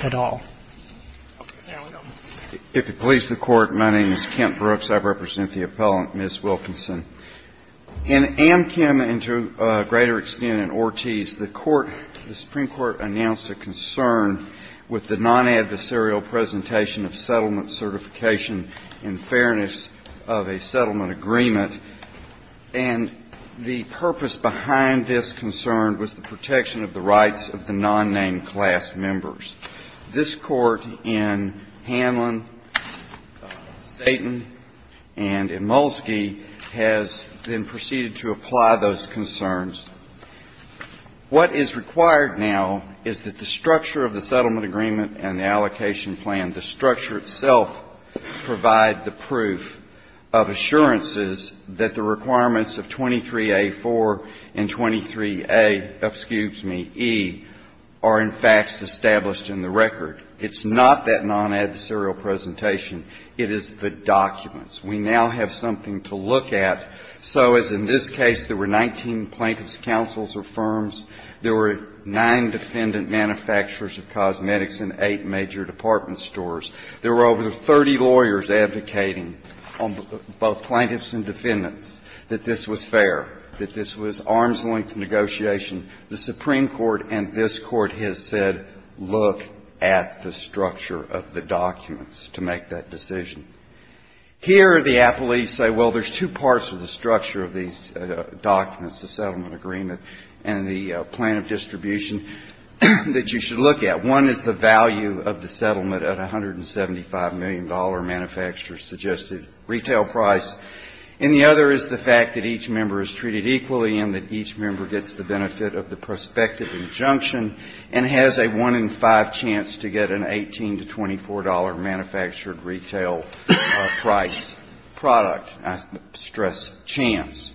at all. If it pleases the Court, my name is Kent Brooks. I represent the appellant Ms. Wilkenson. In Amchem and to a greater extent in Ortiz, the Court, the Supreme Court, announced a concern with the non-adversarial presentation of settlement certification in fairness of a settlement agreement, and the purpose behind this concern was the protection of the rights of the non-named class members. This Court in Hanlon, Satan, and in Molsky has then proceeded to apply those concerns. What is required now is that the structure of the settlement agreement and the allocation plan, the structure itself, provide the proof of assurances that the requirements of 23A.4 and 23A, excuse me, E, are in fact established in the record. It's not that non-adversarial presentation. It is the documents. We now have something to look at. So as in this case there were 19 plaintiffs' counsels or firms, there were nine defendant manufacturers of cosmetics in eight major department stores. There were over 30 lawyers advocating on both plaintiffs and defendants that this was fair, that this was arm's-length negotiation. The Supreme Court and this Court has said, look at the structure of the documents to make that decision. Here the appellees say, well, there's two parts of the structure of these documents, the settlement agreement and the plan of distribution that you should look at. One is the value of the settlement at $175 million manufacturer-suggested retail price, and the other is the fact that each member is treated equally and that each member gets the benefit of the prospective injunction and has a one-in-five chance to get an $18 to $24 manufactured retail price product, I stress chance.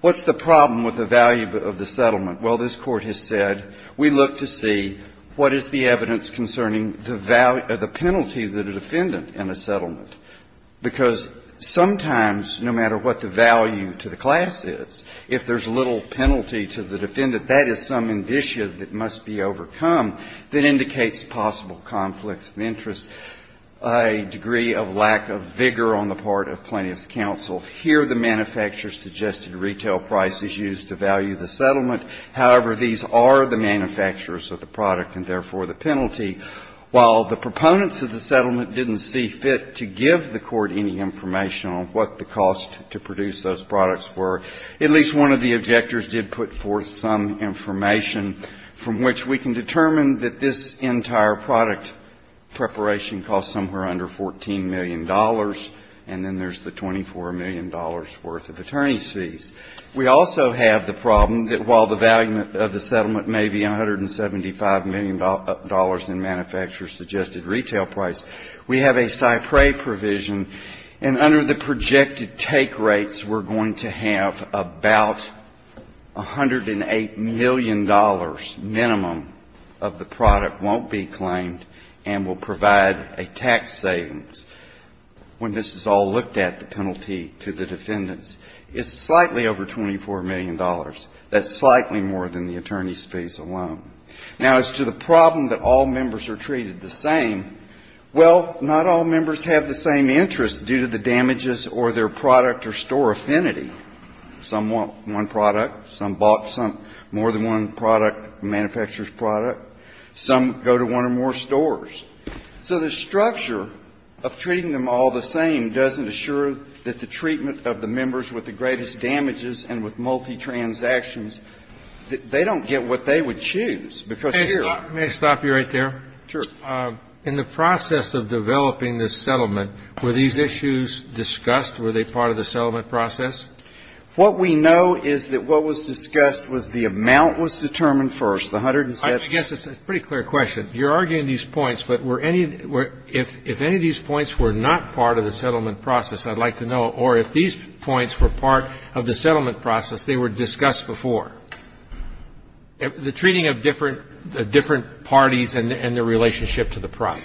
What's the problem with the value of the settlement? Well, this Court has said, we look to see what is the evidence concerning the value of the penalty to the defendant in a settlement, because sometimes no matter what the value to the class is, if there's little penalty to the defendant, that is some indicia that must be overcome that indicates possible conflicts of interest, a degree of lack of vigor on the part of plaintiffs' counsel. Here the manufacturer-suggested retail price is used to value the settlement. However, these are the manufacturers of the product and, therefore, the penalty. While the proponents of the settlement didn't see fit to give the Court any information on what the cost to produce those products were, at least one of the objectors did put forth some information from which we can determine that this entire product preparation cost somewhere under $14 million, and then there's the $24 million worth of attorney's fees. We also have the problem that while the value of the settlement may be $175 million in manufacturer-suggested retail price, we have a Cypre provision, and under the projected take rates, we're going to have about $108 million minimum of the product won't be claimed and will provide a tax savings. When this is all looked at, the penalty to the defendants is slightly over $24 million. That's slightly more than the attorney's fees alone. Now, as to the problem that all members are treated the same, well, not all members have the same interest due to the damages or their product or store affinity. Some want one product. Some bought some more than one product, manufacturer's product. Some go to one or more stores. So the structure of treating them all the same doesn't assure that the treatment of the members with the greatest damages and with multi-transactions, they don't get what they would choose, because here they're not going to get the same benefits. Kennedy. Let me stop you right there. Sure. In the process of developing this settlement, were these issues discussed? Were they part of the settlement process? What we know is that what was discussed was the amount was determined first, the $175 million, and then the $1,000,000, and then the $1,000,000, and then the $1,000,000. So the question is, if any of these points were not part of the settlement process, I'd like to know, or if these points were part of the settlement process, they were discussed before, the treating of different parties and their relationship to the product.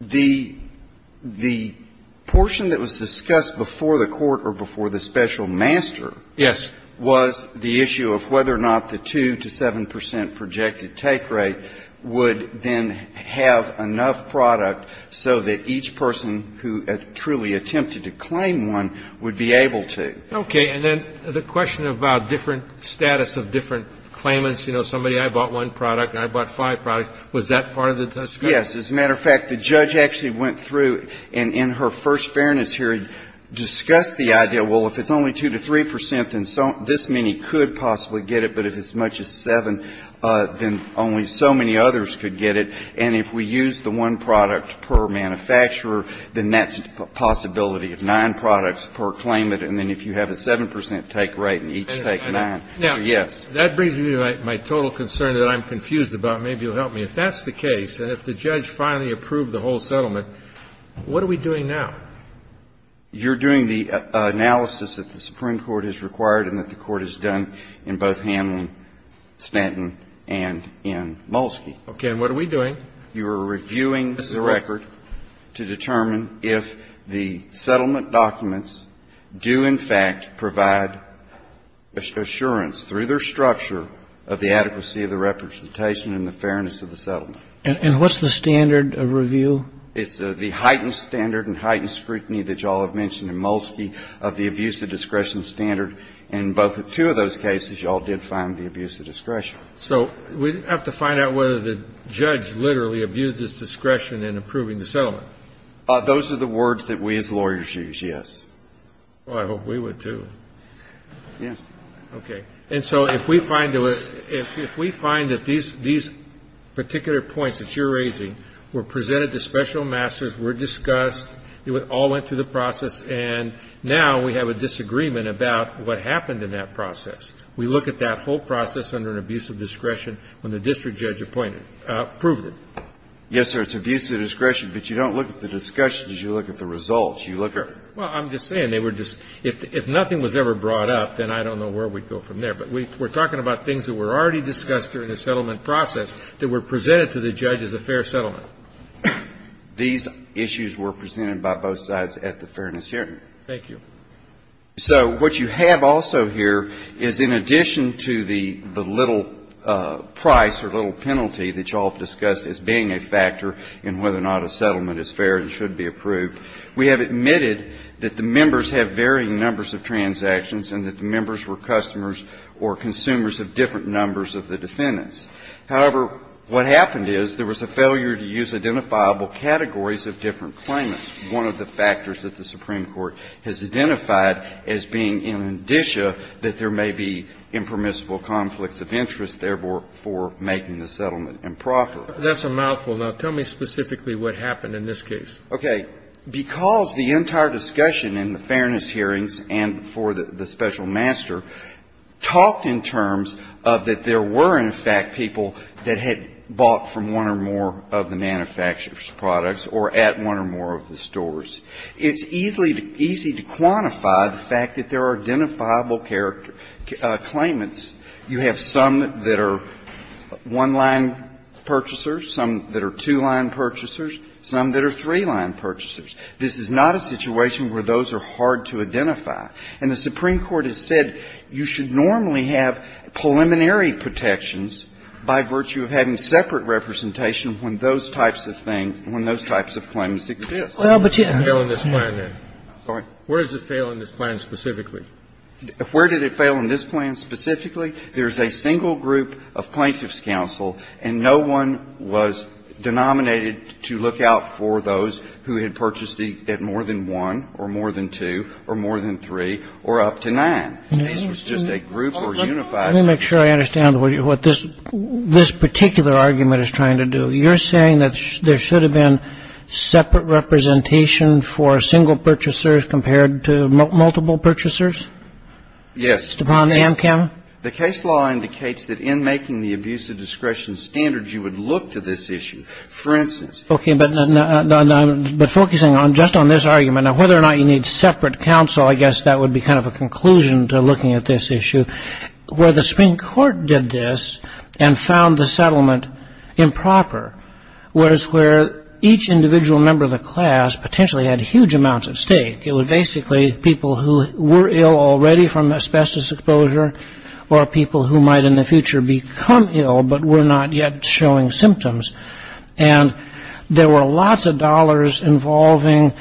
The portion that was discussed before the court or before the special master was the issue of whether or not the 2 to 7 percent projected take rate would then have enough product so that each person who truly attempted to claim one would be able to. Okay. And then the question about different status of different claimants, you know, somebody I bought one product and I bought five products, was that part of the discussion? Yes. As a matter of fact, the judge actually went through and in her first fairness here discussed the idea, well, if it's only 2 to 3 percent, then this many could possibly get it, but if it's as much as 7, then only so many others could get it, and if we use the one product per manufacturer, then that's a possibility of nine products per claimant, and then if you have a 7 percent take rate and each take nine. So, yes. That brings me to my total concern that I'm confused about. Maybe you'll help me. If that's the case, and if the judge finally approved the whole settlement, what are we doing now? You're doing the analysis that the Supreme Court has required and that the Court has done in both handling Stanton and in Molsky. Okay. And what are we doing? You are reviewing the record to determine if the settlement documents do, in fact, provide assurance through their structure of the adequacy of the representation and the fairness of the settlement. And what's the standard of review? It's the heightened standard and heightened scrutiny that you all have mentioned in Molsky of the abuse of discretion standard, and in both two of those cases, you all did find the abuse of discretion. So we have to find out whether the judge literally abused his discretion in approving the settlement. Those are the words that we as lawyers use, yes. Well, I hope we would, too. Yes. Okay. And so if we find that these particular points that you're raising were presented to special masters, were discussed, it all went through the process, and now we have a disagreement about what happened in that process. We look at that whole process under an abuse of discretion when the district judge approved it. Yes, sir. It's abuse of discretion, but you don't look at the discussion. You look at the results. Well, I'm just saying they were just – if nothing was ever brought up, then I don't know where we'd go from there. But we're talking about things that were already discussed during the settlement process that were presented to the judge as a fair settlement. These issues were presented by both sides at the fairness hearing. Thank you. So what you have also here is in addition to the little price or little penalty that was presented to the district judge when the settlement was presented to the district judge, we have admitted that the members have varying numbers of transactions and that the members were customers or consumers of different numbers of the defendants. However, what happened is there was a failure to use identifiable categories of different claimants. And that's one of the factors that the Supreme Court has identified as being in addition that there may be impermissible conflicts of interest, therefore, for making the settlement improper. That's a mouthful. Now, tell me specifically what happened in this case. Okay. Because the entire discussion in the fairness hearings and for the special master talked in terms of that there were, in fact, people that had bought from one or more of the manufacturer's products or at one or more of the stores. It's easy to quantify the fact that there are identifiable claimants. You have some that are one-line purchasers, some that are two-line purchasers, some that are three-line purchasers. This is not a situation where those are hard to identify. And the Supreme Court has said you should normally have preliminary protections by virtue of having separate representation when those types of things, when those types of claims exist. Well, but you didn't fail in this plan, then. Sorry? Where does it fail in this plan specifically? Where did it fail in this plan specifically? There's a single group of plaintiffs' counsel, and no one was denominated to look out for those who had purchased at more than one or more than two or more than three or up to nine. This was just a group or unified group. Let me make sure I understand what this particular argument is trying to do. You're saying that there should have been separate representation for single purchasers compared to multiple purchasers? Yes. Upon Amchem? The case law indicates that in making the abuse of discretion standards, you would look to this issue. For instance — Okay. But focusing just on this argument, whether or not you need separate counsel, I guess that would be kind of a conclusion to looking at this issue, where the Supreme Court did this and found the settlement improper was where each individual member of the class potentially had huge amounts at stake. It was basically people who were ill already from asbestos exposure or people who might in the future become ill but were not yet showing symptoms. And there were lots of dollars involving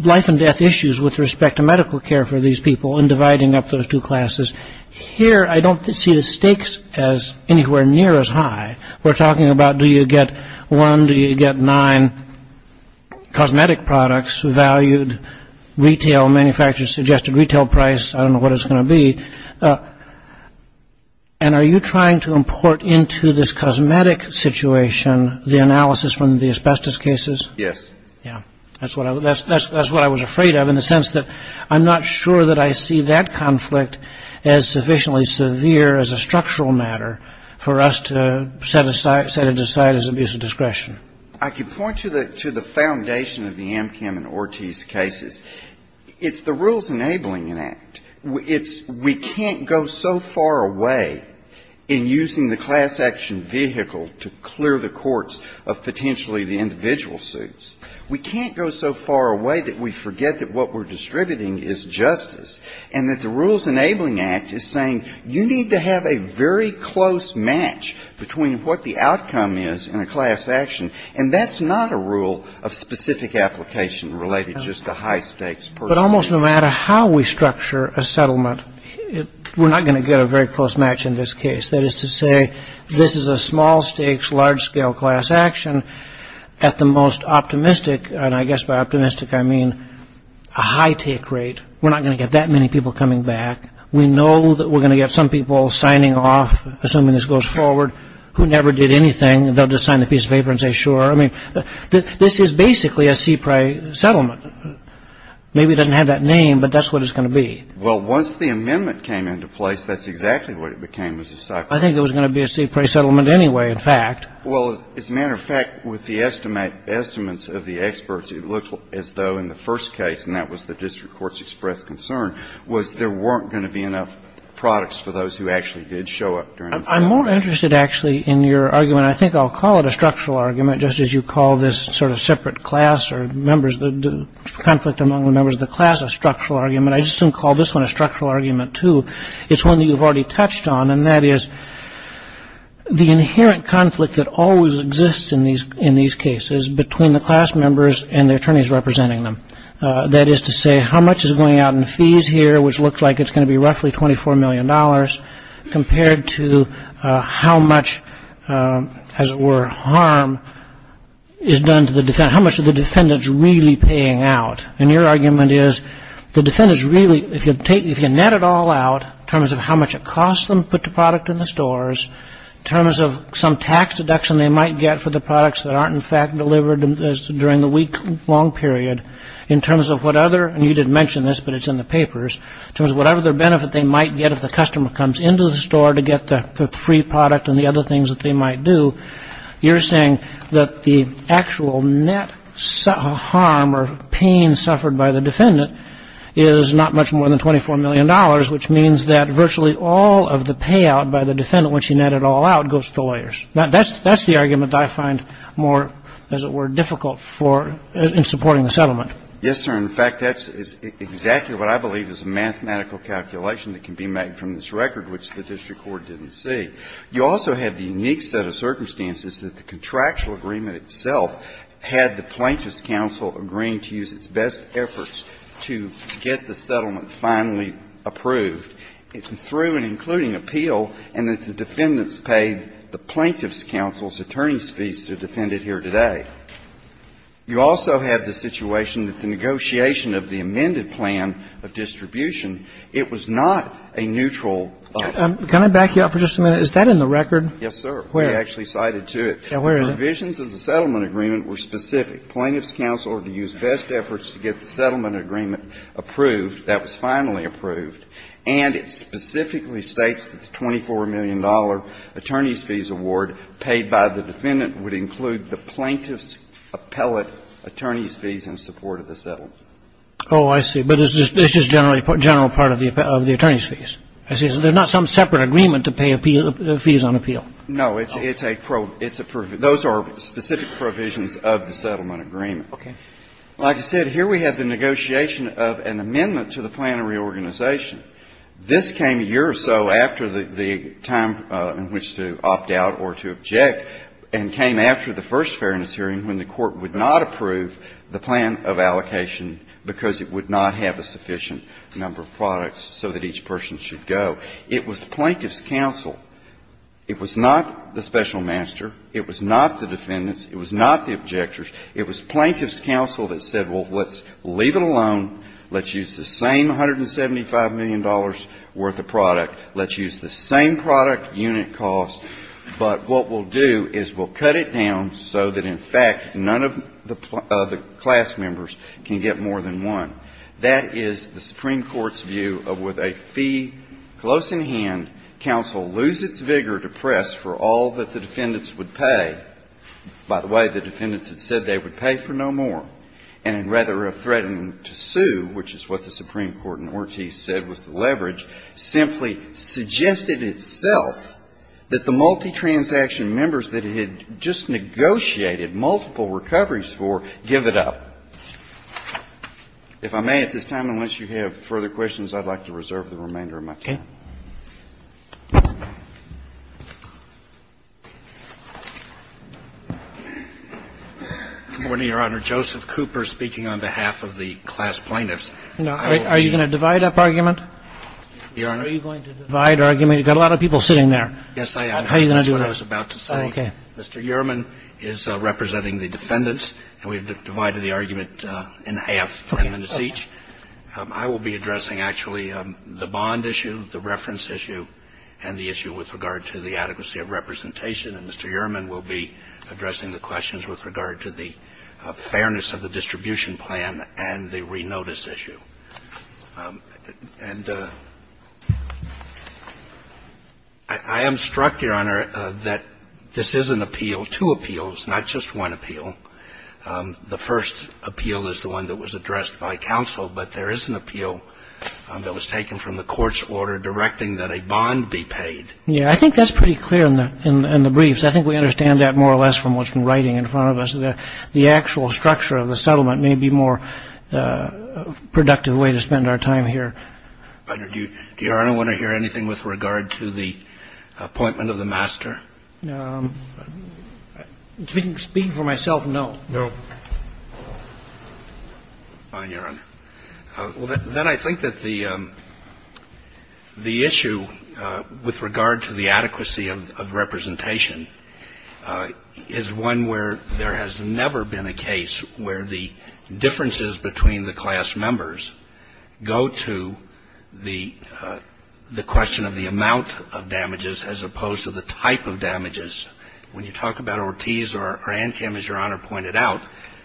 life and death issues with respect to medical care for these people and dividing up those two classes. Here, I don't see the stakes as anywhere near as high. We're talking about do you get one, do you get nine cosmetic products valued retail manufacturers suggested retail price. I don't know what it's going to be. And are you trying to import into this cosmetic situation the analysis from the asbestos cases? Yes. Yeah. That's what I was afraid of in the sense that I'm not sure that I see that conflict as sufficiently severe as a structural matter for us to set it aside as abuse of discretion. I can point to the foundation of the Amchem and Ortiz cases. It's the rules enabling an act. It's we can't go so far away in using the class action vehicle to clear the courts of potentially the individual suits. We can't go so far away that we forget that what we're distributing is justice and that the rules enabling act is saying you need to have a very close match between what the outcome is in a class action. And that's not a rule of specific application related just to high stakes. But almost no matter how we structure a settlement we're not going to get a very close match in this case. That is to say this is a small stakes large scale class action at the most optimistic and I guess by optimistic I mean a high take rate. We're not going to get that many people coming back. We know that we're going to get some people signing off assuming this goes forward who never did anything. They'll just sign the piece of paper and say sure. I mean this is basically a CPRI settlement. Maybe it doesn't have that name but that's what it's going to be. Well once the amendment came into place that's exactly what it became. I think it was going to be a CPRI settlement anyway in fact. Well as a matter of fact with the estimates of the experts it looked as though in the first case and that was the district courts express concern was there weren't going to be enough products for those who actually did show up. I'm more interested actually in your argument. I think I'll call it a structural argument just as you call this sort of separate class or members of the conflict among the members of the class a structural argument. I just didn't call this one a structural argument too. It's one that you've already touched on and that is the inherent conflict that always exists in these cases between the class members and the attorneys representing them. That is to say how much is going out in fees here which looks like it's going to be roughly $24 million compared to how much as it were harm is done to the defendants. How much are the defendants really paying out? And your argument is the defendants really if you take if you net it all out in terms of how much it costs them to put the product in the stores in terms of some tax deduction they might get for the products that aren't in fact delivered during the week long period in terms of what other and you didn't mention this but it's in the papers in terms of whatever benefit they might get if the customer comes into the store to get the free product and the other things that they might do. You're saying that the actual net harm or pain suffered by the defendant is not much more than $24 million which means that virtually all of the payout by the defendant once you net it all out goes to the lawyers. That's the argument I find more as it were difficult for in supporting the settlement. Yes, sir. In fact, that's exactly what I believe is a mathematical calculation that can be made from this record which the district court didn't see. You also have the unique set of circumstances that the contractual agreement itself had the Plaintiff's counsel agreeing to use its best efforts to get the settlement finally approved through and including appeal and that the defendants paid the Plaintiff's counsel's attorney's fees to defend it here today. You also have the situation that the negotiation of the amended plan of distribution, it was not a neutral. Can I back you up for just a minute? Is that in the record? Yes, sir. Where? We actually cited to it. Yeah, where is it? The provisions of the settlement agreement were specific. Plaintiff's counsel to use best efforts to get the settlement agreement approved. That was finally approved. And it specifically states that the $24 million attorney's fees award paid by the defendant would include the Plaintiff's appellate attorney's fees in support of the settlement. Oh, I see. But this is just generally a general part of the attorney's fees. I see. So there's not some separate agreement to pay appeal fees on appeal. No. It's a pro – it's a – those are specific provisions of the settlement agreement. Okay. Like I said, here we have the negotiation of an amendment to the plan of reorganization. This came a year or so after the time in which to opt out or to object and came after the first Fairness Hearing when the Court would not approve the plan of allocation because it would not have a sufficient number of products so that each person should go. It was Plaintiff's counsel. It was not the special master. It was not the defendants. It was not the objectors. It was Plaintiff's counsel that said, well, let's leave it alone. Let's use the same $175 million worth of product. Let's use the same product unit cost. But what we'll do is we'll cut it down so that, in fact, none of the class members can get more than one. That is the Supreme Court's view of with a fee close in hand, counsel lose its vigor to press for all that the defendants would pay. By the way, the defendants had said they would pay for no more. And rather of threatening to sue, which is what the Supreme Court in Ortiz said was the leverage, simply suggested itself that the multi-transaction members that it had just negotiated multiple recoveries for give it up. If I may at this time, unless you have further questions, I'd like to reserve the remainder of my time. Okay. Good morning, Your Honor. Joseph Cooper speaking on behalf of the class plaintiffs. Are you going to divide up argument? Your Honor. Are you going to divide argument? You've got a lot of people sitting there. Yes, I am. How are you going to do that? That's what I was about to say. Okay. Mr. Uhrman is representing the defendants, and we've divided the argument in half for a minute each. I will be addressing actually the bond issue, the reference issue, and the issue with regard to the adequacy of representation. And Mr. Uhrman will be addressing the questions with regard to the fairness of the distribution plan and the renotice issue. And I am struck, Your Honor, that this is an appeal, two appeals, not just one appeal. The first appeal is the one that was addressed by counsel, but there is an appeal that was taken from the court's order directing that a bond be paid. Yes, I think that's pretty clear in the briefs. I think we understand that more or less from what's been writing in front of us, that the actual structure of the settlement may be a more productive way to spend our time here. But do you, Your Honor, want to hear anything with regard to the appointment of the master? Speaking for myself, no. No. Fine, Your Honor. Well, then I think that the issue with regard to the adequacy of representation is one where there has never been a case where the differences between the class of damages, when you talk about Ortiz or ANCAM, as Your Honor pointed out,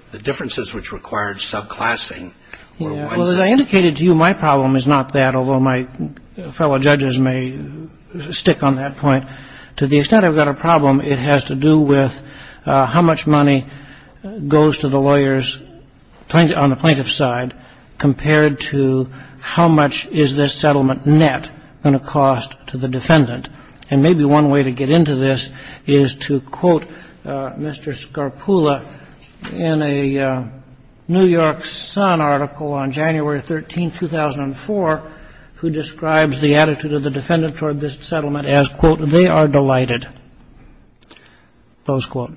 the differences which required subclassing were one set. Well, as I indicated to you, my problem is not that, although my fellow judges may stick on that point. To the extent I've got a problem, it has to do with how much money goes to the lawyers on the plaintiff's side compared to how much is this settlement net going to cost to the defendant. And maybe one way to get into this is to quote Mr. Scarpulla in a New York Sun article on January 13, 2004, who describes the attitude of the defendant toward this settlement as, quote, they are delighted, close quote.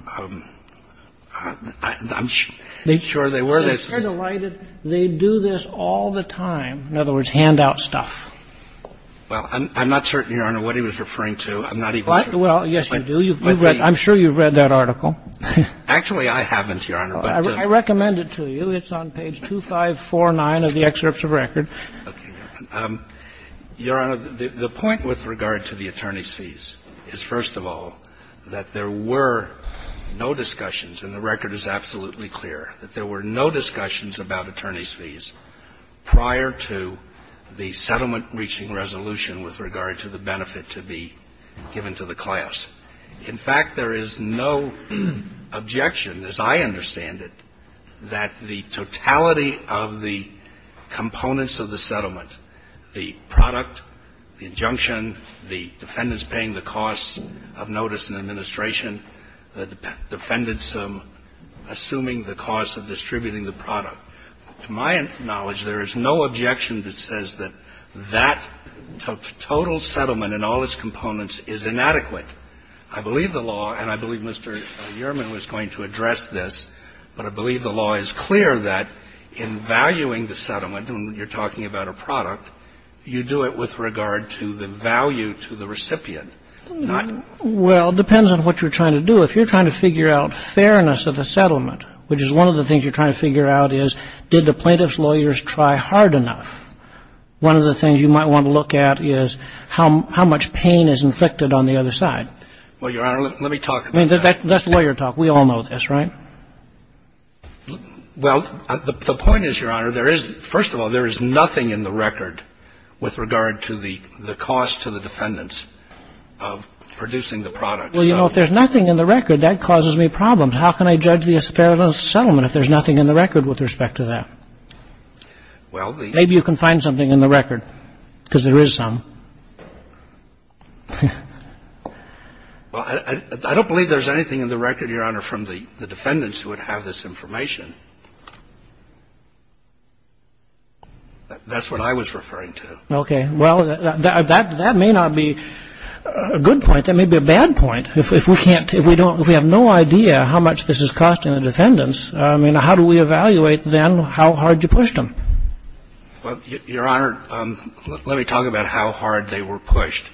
I'm sure they were. They're delighted. They do this all the time. In other words, hand out stuff. Well, I'm not certain, Your Honor, what he was referring to. I'm not even sure. Well, yes, you do. You've read that. I'm sure you've read that article. Actually, I haven't, Your Honor. I recommend it to you. It's on page 2549 of the excerpts of record. Okay. Your Honor, the point with regard to the attorney's fees is, first of all, that there were no discussions, and the record is absolutely clear, that there were no discussions about attorney's fees prior to the settlement-reaching resolution with regard to the benefit to be given to the class. In fact, there is no objection, as I understand it, that the totality of the components of the settlement, the product, the injunction, the defendants paying the cost of notice and administration, the defendants assuming the cost of distributing the product. To my knowledge, there is no objection that says that that total settlement and all its components is inadequate. I believe the law, and I believe Mr. Uriman was going to address this, but I believe the law is clear that in valuing the settlement, when you're talking about a product, you do it with regard to the value to the recipient, not to the benefit. And so it depends on what you're trying to do. If you're trying to figure out fairness of the settlement, which is one of the things you're trying to figure out is, did the plaintiff's lawyers try hard enough, one of the things you might want to look at is how much pain is inflicted on the other side. Well, Your Honor, let me talk about that. I mean, that's lawyer talk. We all know this, right? Well, the point is, Your Honor, there is — first of all, there is nothing in the record with regard to the cost to the defendants of producing the product. Well, you know, if there's nothing in the record, that causes me problems. How can I judge the fairness of the settlement if there's nothing in the record with respect to that? Well, the — Maybe you can find something in the record, because there is some. Well, I don't believe there's anything in the record, Your Honor, from the defendants who would have this information. That's what I was referring to. Okay. Well, that may not be a good point. That may be a bad point. If we can't — if we don't — if we have no idea how much this is costing the defendants, I mean, how do we evaluate, then, how hard you pushed them? Well, Your Honor, let me talk about how hard they were pushed.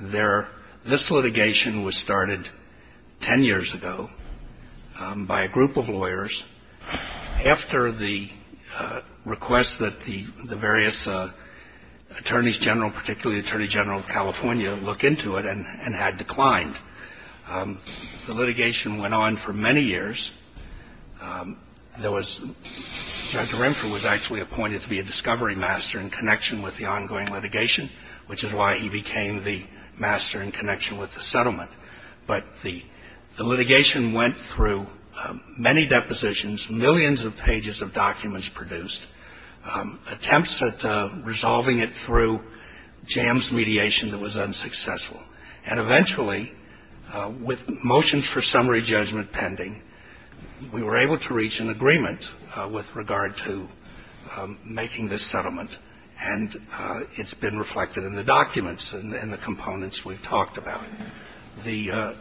Their — this litigation was started 10 years ago by a group of lawyers after the request that the various attorneys general, particularly the Attorney General of California, looked into it and had declined. The litigation went on for many years. There was — Judge Renfrew was actually appointed to be a discovery master in connection with the ongoing litigation, which is why he became the master in connection with the settlement. But the litigation went through many depositions, millions of pages of documents produced, attempts at resolving it through jams, mediation that was unsuccessful. And eventually, with motions for summary judgment pending, we were able to reach an agreement with regard to making this settlement, and it's been reflected in the documents and the components we've talked about. The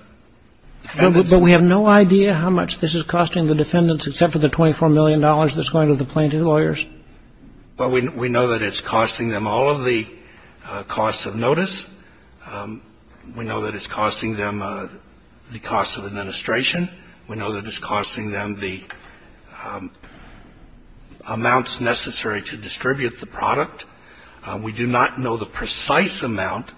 defendants — But we have no idea how much this is costing the defendants except for the $24 million that's going to the plaintiff's lawyers? Well, we know that it's costing them all of the costs of notice. We know that it's costing them the cost of administration. We know that it's costing them the amounts necessary to distribute the product. We do not know the precise amount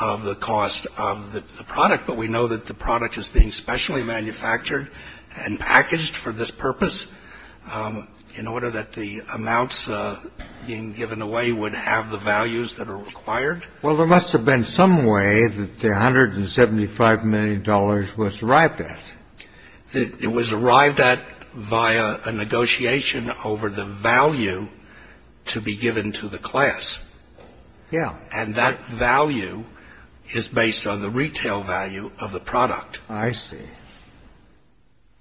of the cost of the product, but we know that the product is being specially manufactured and packaged for this purpose in order that the amounts being given away would have the values that are required. Well, there must have been some way that the $175 million was arrived at. It was arrived at via a negotiation over the value to be given to the class. Yeah. And that value is based on the retail value of the product. I see.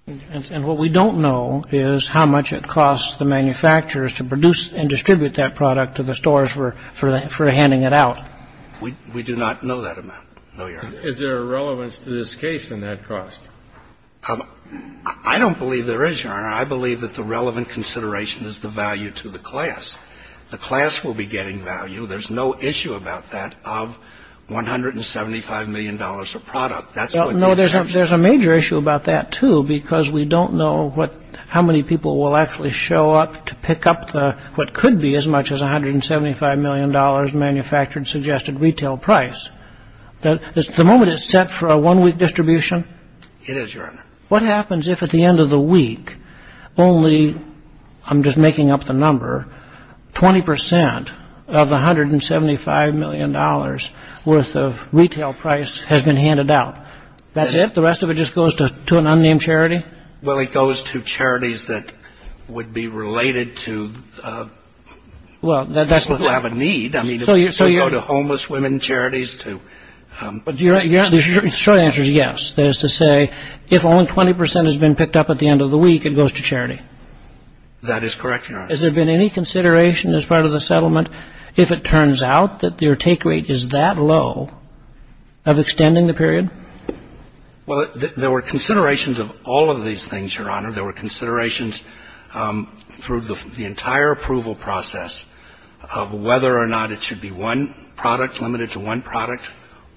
And what we don't know is how much it costs the manufacturers to produce and distribute that product to the stores for handing it out. We do not know that amount, no, Your Honor. Is there a relevance to this case in that cost? I don't believe there is, Your Honor. I believe that the relevant consideration is the value to the class. The class will be getting value. There's no issue about that of $175 million for product. No, there's a major issue about that, too, because we don't know how many people will actually show up to pick up what could be as much as $175 million manufactured suggested retail price. The moment it's set for a one-week distribution? It is, Your Honor. What happens if at the end of the week, only, I'm just making up the number, 20% of the $175 million worth of retail price has been handed out? That's it? The rest of it just goes to an unnamed charity? Well, it goes to charities that would be related to people who have a need. I mean, it could go to homeless women charities, to... The short answer is yes. That is to say, if only 20% has been picked up at the end of the week, it goes to charity. That is correct, Your Honor. Has there been any consideration as part of the settlement if it turns out that your take rate is that low of extending the period? Well, there were considerations of all of these things, Your Honor. There were considerations through the entire approval process of whether or not it should be one product, limited to one product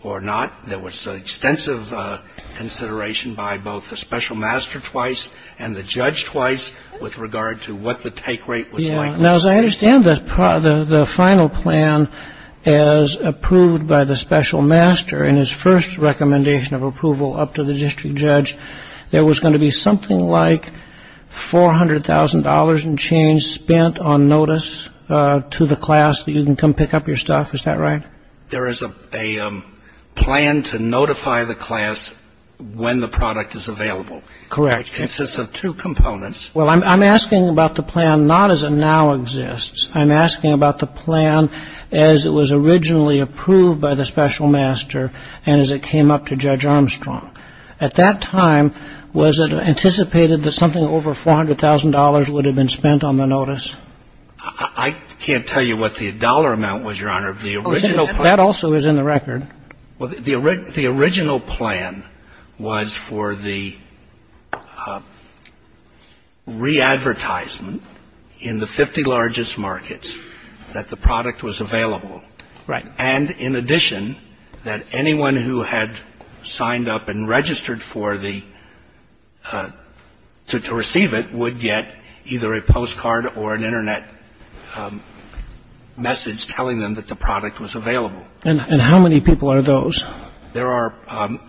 or not. There was extensive consideration by both the special master twice and the judge twice with regard to what the take rate was like. Now, as I understand the final plan as approved by the special master in his first recommendation of approval up to the district judge, there was going to be something like $400,000 in change spent on notice to the class that you can come pick up your stuff. Is that right? There is a plan to notify the class when the product is available. Correct. It consists of two components. Well, I'm asking about the plan not as it now exists. I'm asking about the plan as it was originally approved by the special master and as it came up to Judge Armstrong. At that time, was it anticipated that something over $400,000 would have been spent on the notice? I can't tell you what the dollar amount was, Your Honor. That also is in the record. Well, the original plan was for the re-advertisement in the 50 largest markets that the product was available. Right. And in addition, that anyone who had signed up and registered for the to receive it would get either a postcard or an Internet message telling them that the product was available. And how many people are those? There are,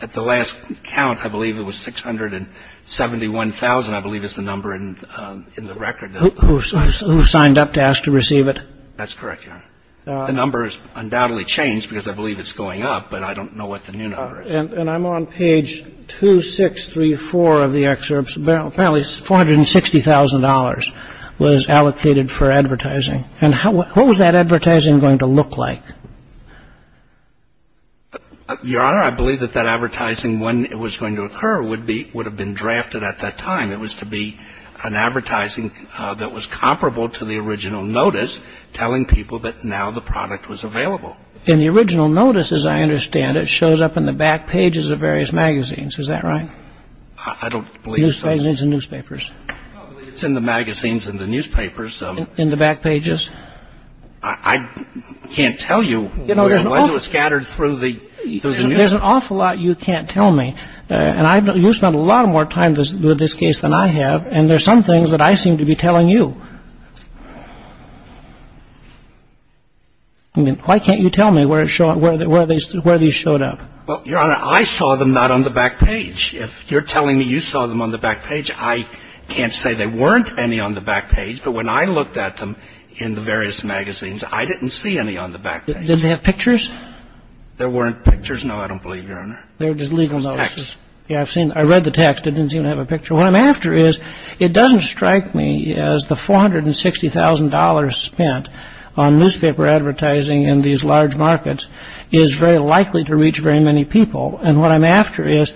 at the last count, I believe it was 671,000, I believe is the number in the record. Who signed up to ask to receive it? That's correct, Your Honor. The number has undoubtedly changed because I believe it's going up, but I don't know what the new number is. And I'm on page 2634 of the excerpts. Apparently, $460,000 was allocated for advertising. And what was that advertising going to look like? Your Honor, I believe that that advertising, when it was going to occur, would have been drafted at that time. It was to be an advertising that was comparable to the original notice telling people that now the product was available. In the original notice, as I understand it, shows up in the back pages of various magazines. Is that right? I don't believe so. Newspapers and newspapers. It's in the magazines and the newspapers. In the back pages? I can't tell you. It was scattered through the newspapers. There's an awful lot you can't tell me. And you've spent a lot more time with this case than I have, and there's some things that I seem to be telling you. I mean, why can't you tell me where it showed up, where these showed up? Well, Your Honor, I saw them not on the back page. If you're telling me you saw them on the back page, I can't say there weren't any on the back page. But when I looked at them in the various magazines, I didn't see any on the back page. Did they have pictures? There weren't pictures, no, I don't believe you, Your Honor. They were just legal notices. Texts. Yeah, I've seen. I read the text. It didn't seem to have a picture. What I'm after is, it doesn't strike me as the $460,000 spent on newspaper advertising in these large markets is very likely to reach very many people. And what I'm after is,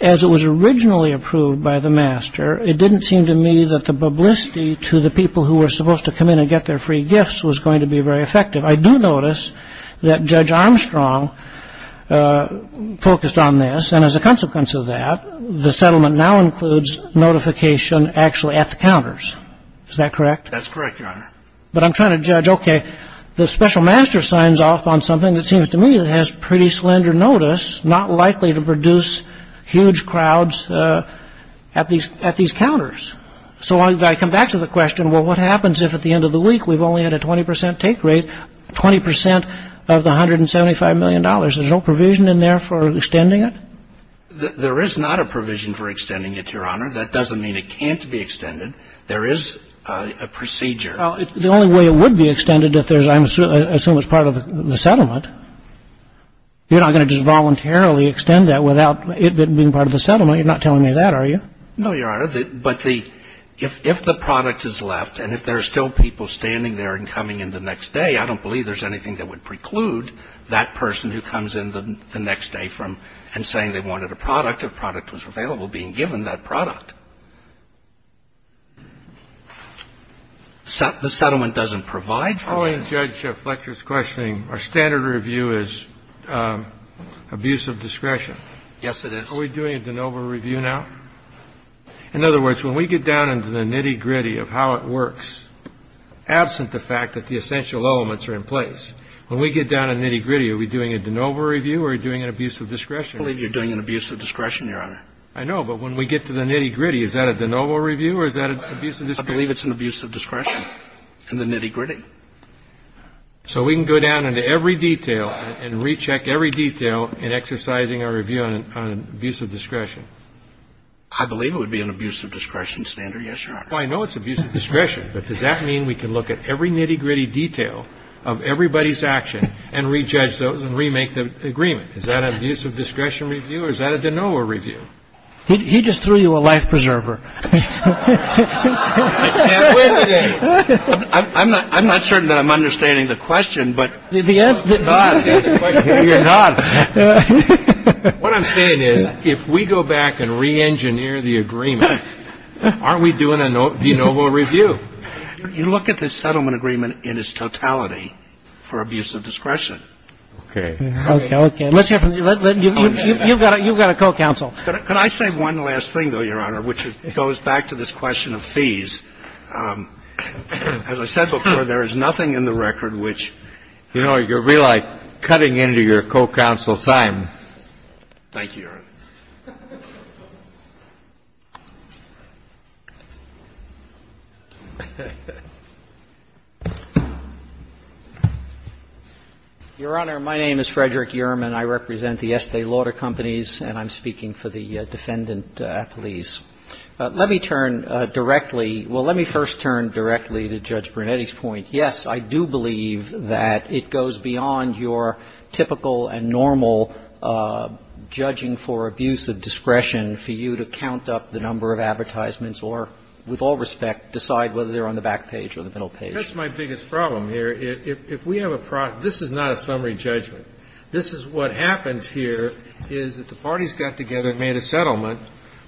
as it was originally approved by the master, it didn't seem to me that the publicity to the people who were supposed to come in and get their free gifts was going to be very effective. I do notice that Judge Armstrong focused on this, and as a consequence of that, the settlement now includes notification actually at the counters. Is that correct? That's correct, Your Honor. But I'm trying to judge, okay, the special master signs off on something that seems to me that has pretty slender notice, not likely to produce huge crowds at these counters. So I come back to the question, well, what happens if at the end of the week we've only had a 20% take rate, 20% of the $175 million? There's no provision in there for extending it? There is not a provision for extending it, Your Honor. That doesn't mean it can't be extended. There is a procedure. Well, the only way it would be extended if there's, I assume it's part of the settlement, you're not going to just voluntarily extend that without it being part of the settlement. You're not telling me that, are you? No, Your Honor. But if the product is left, and if there are still people standing there and coming in the next day, I don't believe there's anything that would preclude that person who comes in the next day from, and saying they wanted a product, if product was available, being given that product. The settlement doesn't provide for that? Following Judge Fletcher's questioning, our standard review is abuse of discretion. Yes, it is. Are we doing a de novo review now? In other words, when we get down into the nitty-gritty of how it works, absent the fact that the essential elements are in place, when we get down to nitty-gritty, are we doing a de novo review or are we doing an abuse of discretion review? I believe you're doing an abuse of discretion, Your Honor. I know, but when we get to the nitty-gritty, is that a de novo review or is that an abuse of discretion? I believe it's an abuse of discretion in the nitty-gritty. So we can go down into every detail and recheck every detail in exercising our review on abuse of discretion? I believe it would be an abuse of discretion standard, yes, Your Honor. Well, I know it's abuse of discretion, but does that mean we can look at every nitty-gritty detail of everybody's action and rejudge those and remake the agreement? Is that an abuse of discretion review or is that a de novo review? He just threw you a life preserver. I'm not certain that I'm understanding the question, but you're nodding. What I'm saying is if we go back and reengineer the agreement, aren't we doing a de novo review? You look at the settlement agreement in its totality for abuse of discretion. Okay. Let's hear from you. You've got a co-counsel. Could I say one last thing, though, Your Honor, which goes back to this question of fees? As I said before, there is nothing in the record which you're really cutting into your co-counsel's time. Thank you, Your Honor. Your Honor, my name is Frederick Urim, and I represent the Estee Lauder Companies, and I'm speaking for the defendant, Appelese. Let me turn directly to Judge Brunetti's point. Yes, I do believe that it goes beyond your typical and normal judging for abuse of discretion for you to count up the number of advertisements or, with all respect, decide whether they're on the back page or the middle page. That's my biggest problem here. If we have a problem, this is not a summary judgment. This is what happens here is that the parties got together and made a settlement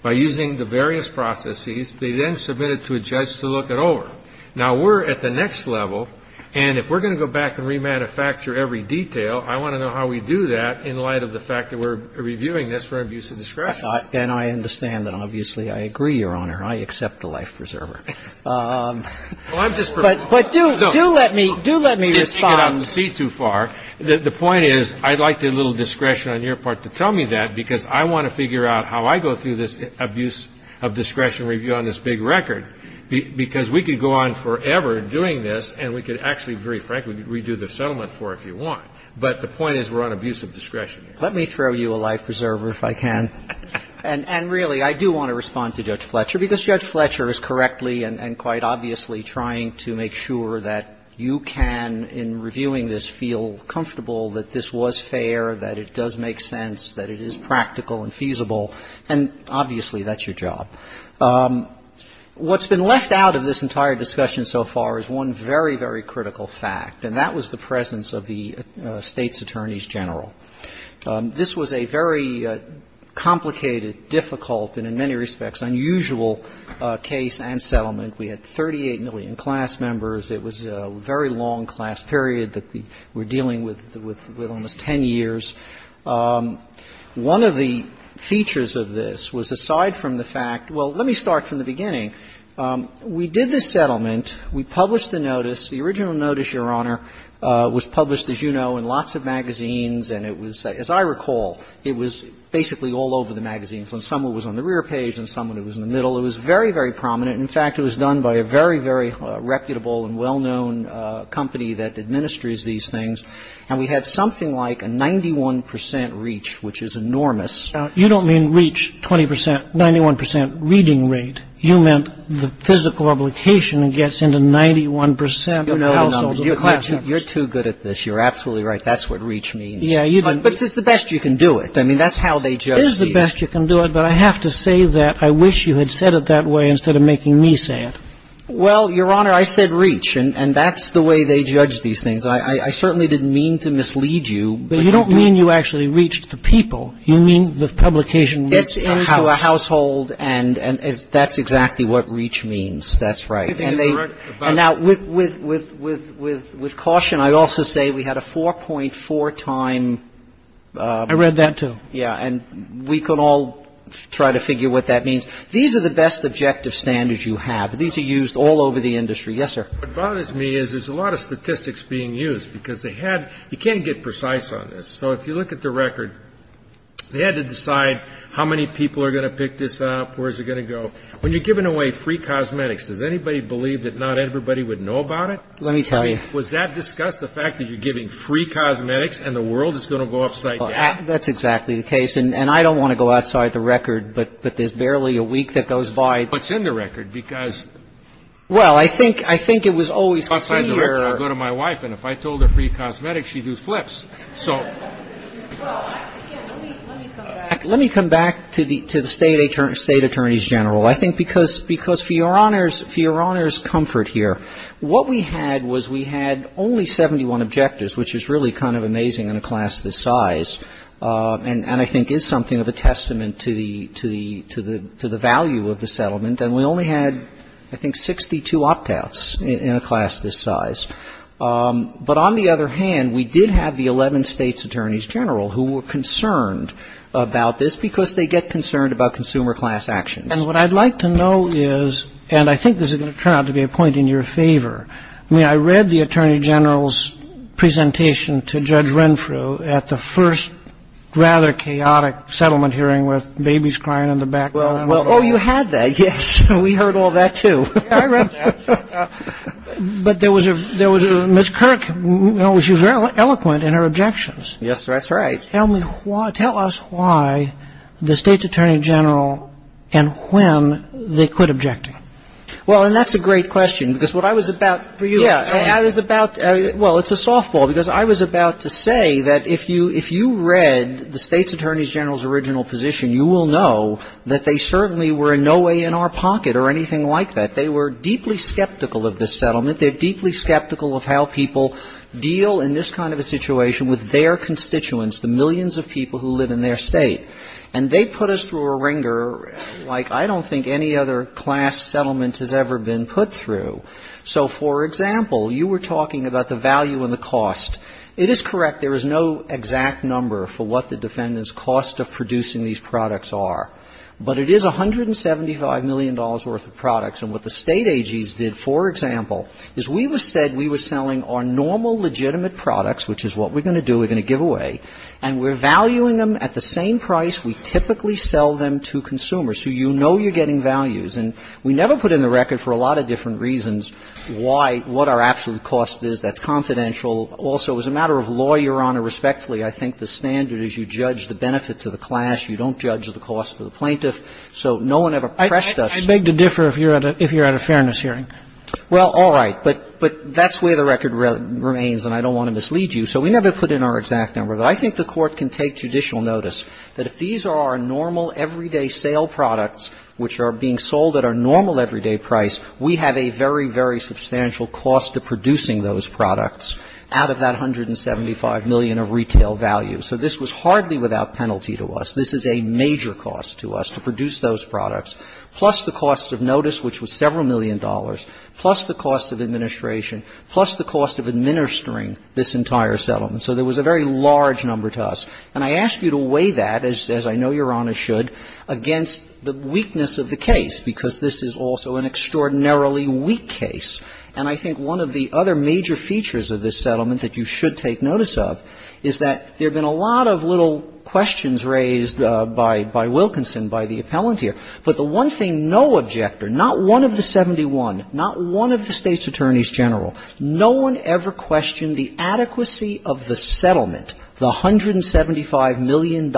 by using the various processes. They then submitted to a judge to look it over. Now, we're at the next level, and if we're going to go back and remanufacture every detail, I want to know how we do that in light of the fact that we're reviewing this for abuse of discretion. And I understand and obviously I agree, Your Honor. I accept the life preserver. But do let me respond. You're taking it out of the seat too far. The point is I'd like a little discretion on your part to tell me that because I want to figure out how I go through this abuse of discretion review on this big record, because we could go on forever doing this, and we could actually, very frankly, redo the settlement for it if you want. But the point is we're on abuse of discretion. Let me throw you a life preserver if I can. And really, I do want to respond to Judge Fletcher, because Judge Fletcher is correctly and quite obviously trying to make sure that you can, in reviewing this, feel comfortable that this was fair, that it does make sense, that it is practical and feasible. And obviously, that's your job. What's been left out of this entire discussion so far is one very, very critical fact, and that was the presence of the State's attorneys general. This was a very complicated, difficult, and in many respects unusual case and settlement We had 38 million class members. It was a very long class period that we're dealing with, with almost 10 years. One of the features of this was, aside from the fact, well, let me start from the beginning. We did this settlement. We published the notice. The original notice, Your Honor, was published, as you know, in lots of magazines, and it was, as I recall, it was basically all over the magazines. And some of it was on the rear page, and some of it was in the middle. It was very, very prominent. In fact, it was done by a very, very reputable and well-known company that administers these things, and we had something like a 91 percent reach, which is enormous. Now, you don't mean reach 20 percent, 91 percent reading rate. You meant the physical obligation that gets into 91 percent of households and class members. You're too good at this. You're absolutely right. That's what reach means. Yeah, you do. But it's the best you can do it. I mean, that's how they judge these. It is the best you can do it, but I have to say that I wish you had said it that way instead of making me say it. Well, Your Honor, I said reach, and that's the way they judge these things. I certainly didn't mean to mislead you. But you don't mean you actually reached the people. You mean the publication gets into a household. Gets into a household, and that's exactly what reach means. That's right. And they – and now, with caution, I'd also say we had a 4.4-time – I read that, too. Yeah, and we could all try to figure what that means. These are the best objective standards you have. These are used all over the industry. Yes, sir. What bothers me is there's a lot of statistics being used because they had – you can't get precise on this. So if you look at the record, they had to decide how many people are going to pick this up, where is it going to go. When you're giving away free cosmetics, does anybody believe that not everybody would know about it? Let me tell you. Was that discussed, the fact that you're giving free cosmetics and the world is going to go upside down? That's exactly the case. And I don't want to go outside the record, but there's barely a week that goes by. What's in the record? Because – Well, I think it was always clear – Outside the record, I go to my wife, and if I told her free cosmetics, she'd do flips. So – Well, again, let me come back – Let me come back to the State Attorneys General. I think because for Your Honor's comfort here, what we had was we had only 71 objectives, which is really kind of amazing in a class this size. And I think is something of a testament to the value of the settlement. And we only had, I think, 62 opt-outs in a class this size. But on the other hand, we did have the 11 States Attorneys General who were concerned about this because they get concerned about consumer class actions. And what I'd like to know is – and I think this is going to turn out to be a point in your favor. I mean, I read the Attorney General's presentation to Judge Renfrew at the first rather chaotic settlement hearing with babies crying in the background. Oh, you had that, yes. We heard all that, too. I read that. But there was a – Ms. Kirk, you know, she was very eloquent in her objections. Yes, that's right. Tell me why – tell us why the States Attorney General and when they quit objecting. Well, and that's a great question because what I was about – for you, I was about – well, it's a softball because I was about to say that if you read the States Attorneys General's original position, you will know that they certainly were in no way in our pocket or anything like that. They were deeply skeptical of this settlement. They're deeply skeptical of how people deal in this kind of a situation with their constituents, the millions of people who live in their state. And they put us through a wringer like I don't think any other class settlement has ever been put through. So, for example, you were talking about the value and the cost. It is correct there is no exact number for what the defendants' cost of producing these products are. But it is $175 million worth of products. And what the State AGs did, for example, is we said we were selling our normal legitimate products, which is what we're going to do, we're going to give away, and we're valuing them at the same price we typically sell them to consumers, who you know you're getting values. And we never put in the record for a lot of different reasons why – what our absolute cost is that's confidential. Also, as a matter of law, Your Honor, respectfully, I think the standard is you judge the benefits of the class. You don't judge the cost of the plaintiff. So no one ever pressed us. I beg to differ if you're at a – if you're at a fairness hearing. Well, all right. But that's where the record remains, and I don't want to mislead you. So we never put in our exact number. But I think the Court can take judicial notice that if these are our normal, everyday sale products, which are being sold at our normal everyday price, we have a very, very substantial cost of producing those products out of that $175 million of retail value. So this was hardly without penalty to us. This is a major cost to us, to produce those products, plus the cost of notice, which was several million dollars, plus the cost of administration, plus the cost of administering this entire settlement. So there was a very large number to us. And I ask you to weigh that, as I know Your Honor should, against the weakness of the case, because this is also an extraordinarily weak case. And I think one of the other major features of this settlement that you should take notice of is that there have been a lot of little questions raised by Wilkinson, by the appellant here. But the one thing no objector, not one of the 71, not one of the State's attorneys general, no one ever questioned the adequacy of the settlement, the $175 million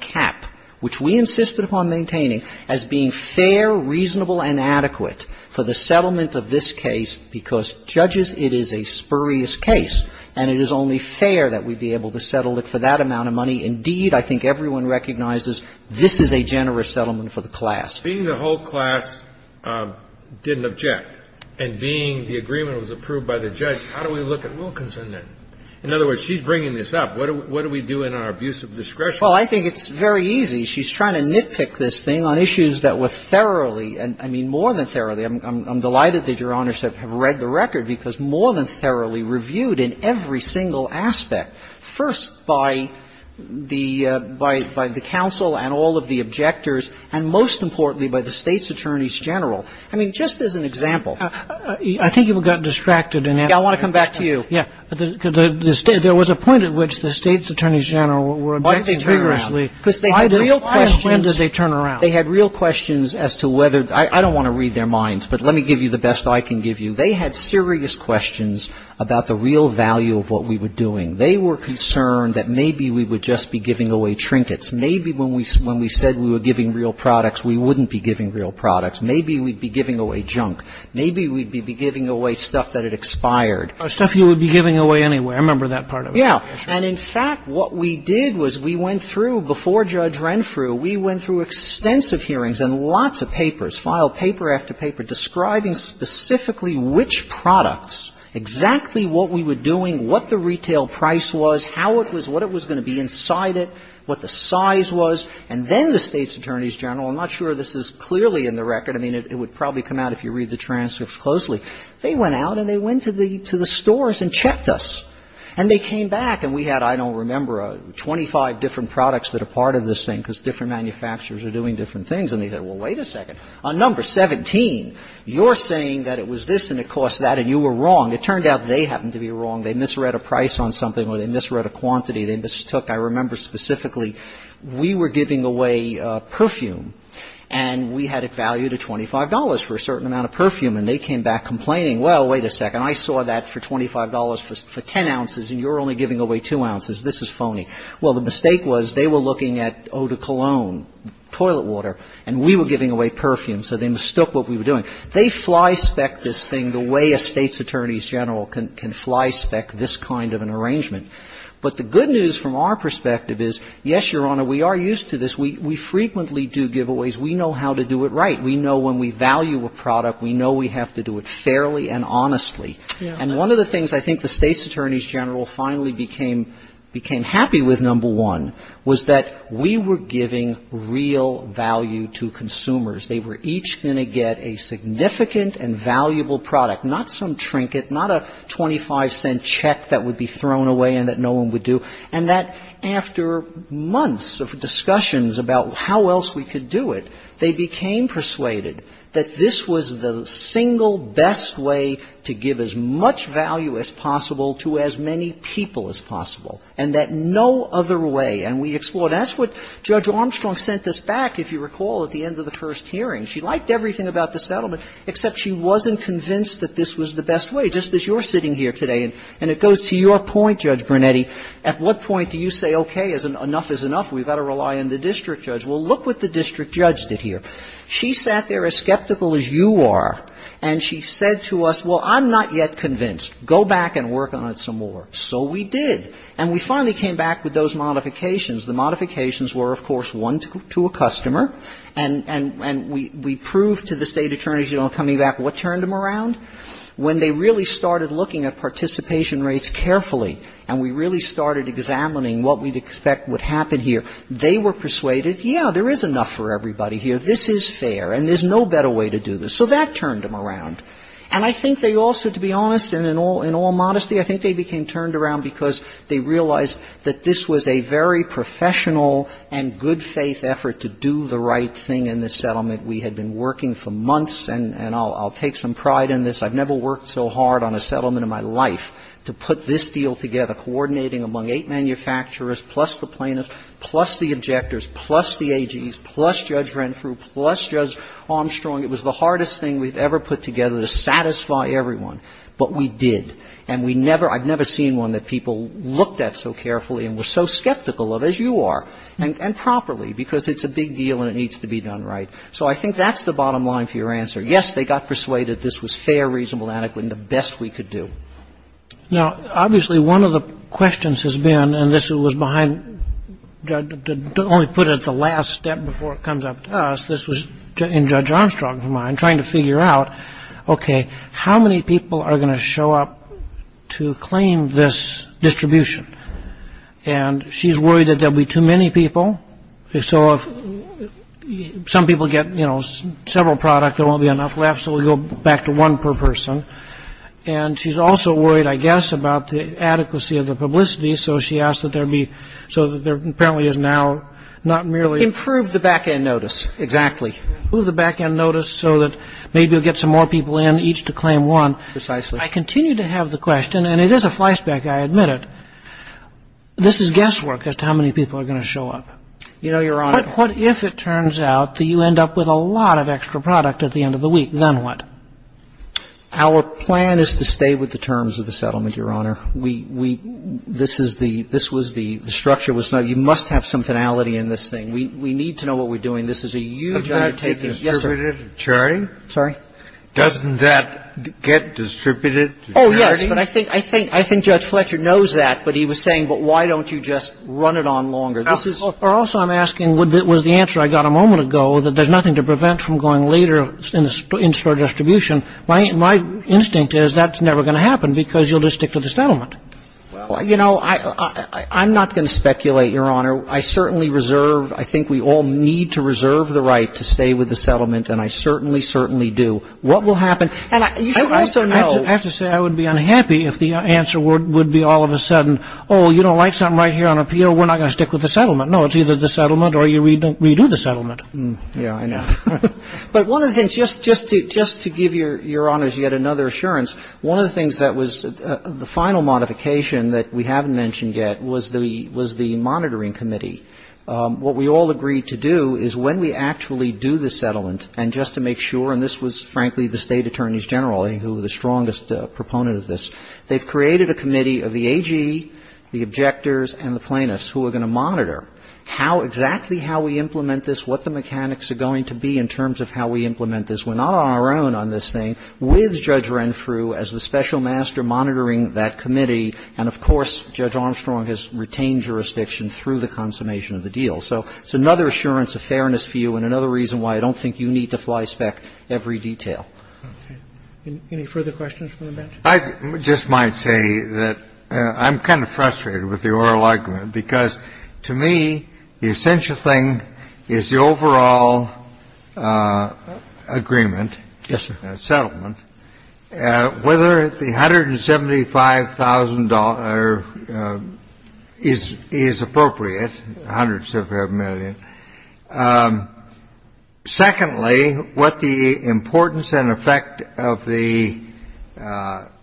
cap, which we insisted upon maintaining as being fair, reasonable, and adequate for the settlement of this case, because, judges, it is a spurious case, and it is only fair that we be able to settle it for that amount of money. Indeed, I think everyone recognizes this is a generous settlement for the class. Kennedy, being the whole class didn't object, and being the agreement was approved by the judge, how do we look at Wilkinson, then? In other words, she's bringing this up. What do we do in our abuse of discretion? Well, I think it's very easy. She's trying to nitpick this thing on issues that were thoroughly, I mean, more than thoroughly. I'm delighted that Your Honor should have read the record, because more than thoroughly reviewed in every single aspect, first by the counsel and all of the objectors, and most importantly, by the State's attorneys general, I mean, just as an example. I think you've gotten distracted in answering my question. Yeah, I want to come back to you. Yeah. Because there was a point at which the State's attorneys general were objecting vigorously. Why did they turn around? Because they had real questions. Why and when did they turn around? They had real questions as to whether the – I don't want to read their minds, but let me give you the best I can give you. They had serious questions about the real value of what we were doing. They were concerned that maybe we would just be giving away trinkets. Maybe when we said we were giving real products, we wouldn't be giving real products. Maybe we'd be giving away junk. Maybe we'd be giving away stuff that had expired. Stuff you would be giving away anyway. I remember that part of it. Yeah. And in fact, what we did was we went through, before Judge Renfrew, we went through extensive hearings and lots of papers, filed paper after paper, describing specifically which products, exactly what we were doing, what the retail price was, how it was, what it was going to be inside it, what the size was. And then the State's attorneys general – I'm not sure this is clearly in the record. I mean, it would probably come out if you read the transcripts closely. They went out and they went to the stores and checked us. And they came back and we had, I don't remember, 25 different products that are part of this thing, because different manufacturers are doing different things. And they said, well, wait a second. On number 17, you're saying that it was this and it cost that and you were wrong. It turned out they happened to be wrong. They misread a price on something or they misread a quantity. They mistook, I remember specifically, we were giving away perfume and we had it valued at $25 for a certain amount of perfume. And they came back complaining, well, wait a second, I saw that for $25 for 10 ounces and you're only giving away 2 ounces. This is phony. Well, the mistake was they were looking at eau de cologne, toilet water, and we were giving away perfume, so they mistook what we were doing. They fly-spec this thing the way a State's Attorney's General can fly-spec this kind of an arrangement. But the good news from our perspective is, yes, Your Honor, we are used to this. We frequently do giveaways. We know how to do it right. We know when we value a product, we know we have to do it fairly and honestly. And one of the things I think the State's Attorney's General finally became happy with, number one, was that we were giving real value to consumers. They were each going to get a significant and valuable product, not some trinket, not a 25-cent check that would be thrown away and that no one would do, and that after months of discussions about how else we could do it, they became persuaded that this was the single best way to give as much value as possible to as many people as possible, and that no other way. And we explored. And that's what Judge Armstrong sent us back, if you recall, at the end of the first hearing. She liked everything about the settlement, except she wasn't convinced that this was the best way, just as you're sitting here today. And it goes to your point, Judge Brunetti. At what point do you say, okay, enough is enough, we've got to rely on the district judge? Well, look what the district judge did here. She sat there as skeptical as you are, and she said to us, well, I'm not yet convinced. Go back and work on it some more. So we did. And we finally came back with those modifications. The modifications were, of course, one to a customer, and we proved to the State attorneys, you know, coming back, what turned them around? When they really started looking at participation rates carefully, and we really started examining what we'd expect would happen here, they were persuaded, yeah, there is enough for everybody here. This is fair, and there's no better way to do this. So that turned them around. And I think they also, to be honest, and in all modesty, I think they became turned around because they realized that this was a very professional and good-faith effort to do the right thing in this settlement. We had been working for months, and I'll take some pride in this. I've never worked so hard on a settlement in my life to put this deal together, coordinating among eight manufacturers, plus the plaintiffs, plus the objectors, plus the AGs, plus Judge Renfrew, plus Judge Armstrong. It was the hardest thing we've ever put together to satisfy everyone. But we did. And we never, I've never seen one that people looked at so carefully and were so skeptical of, as you are, and properly, because it's a big deal and it needs to be done right. So I think that's the bottom line for your answer. Yes, they got persuaded this was fair, reasonable, adequate, and the best we could do. Now, obviously, one of the questions has been, and this was behind, to only put it at the last step before it comes up to us, this was in Judge Armstrong's mind, trying to figure out, okay, how many people are going to show up to claim this distribution? And she's worried that there'll be too many people. So if some people get several product, there won't be enough left, so we'll go back to one per person. And she's also worried, I guess, about the adequacy of the publicity. So she asked that there be, so that there apparently is now not merely- Improve the back end notice, exactly. Move the back end notice so that maybe we'll get some more people in, each to claim one. Precisely. I continue to have the question, and it is a fly spec, I admit it. This is guesswork as to how many people are going to show up. You know, Your Honor- But what if it turns out that you end up with a lot of extra product at the end of the week? Then what? Our plan is to stay with the terms of the settlement, Your Honor. We – this is the – this was the – the structure was – you must have some finality in this thing. We need to know what we're doing. This is a huge undertaking. Yes, sir. Doesn't that get distributed to charity? Oh, yes, but I think – I think Judge Fletcher knows that, but he was saying, but why don't you just run it on longer? This is- Also, I'm asking, was the answer I got a moment ago, that there's nothing to prevent from going later in spur distribution. My instinct is that's never going to happen because you'll just stick to the settlement. Well, you know, I'm not going to speculate, Your Honor. I certainly reserve – I think we all need to reserve the right to stay with the settlement, and I certainly, certainly do. What will happen – and you should also know- I have to say I would be unhappy if the answer would be all of a sudden, oh, you don't like something right here on appeal, we're not going to stick with the settlement. No, it's either the settlement or you redo the settlement. Yeah, I know. But one of the things – just to give Your Honors yet another assurance, one of the things that was – the final modification that we haven't mentioned yet was the monitoring committee. What we all agreed to do is when we actually do the settlement, and just to make sure – and this was, frankly, the State Attorneys General, who were the strongest proponent of this – they've created a committee of the AG, the objectors, and the plaintiffs who are going to monitor how – exactly how we implement this, what the mechanics are going to be in terms of how we implement this. We're not on our own on this thing. And so we're going to be monitoring that committee with Judge Renfrew as the special master monitoring that committee, and, of course, Judge Armstrong has retained jurisdiction through the consummation of the deal. So it's another assurance of fairness for you and another reason why I don't think you need to flyspeck every detail. Any further questions from the bench? I just might say that I'm kind of frustrated with the oral argument because, to me, the essential thing is the overall agreement. Yes, sir. The first thing I would like to say is that the $175,000 is appropriate, the $175,000 settlement, whether the $175,000 is appropriate, hundreds of millions. Second, what the importance and effect of the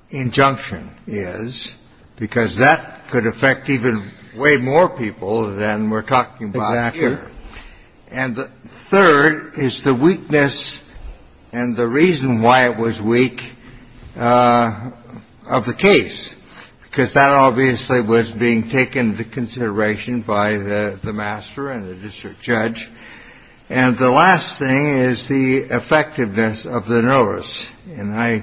injunction is, because that could affect way more people than we're talking about here. And the third is the weakness and the reason why it was weak of the case, because that obviously was being taken into consideration by the master and the district attorney. And the last thing is the effectiveness of the notice, and I,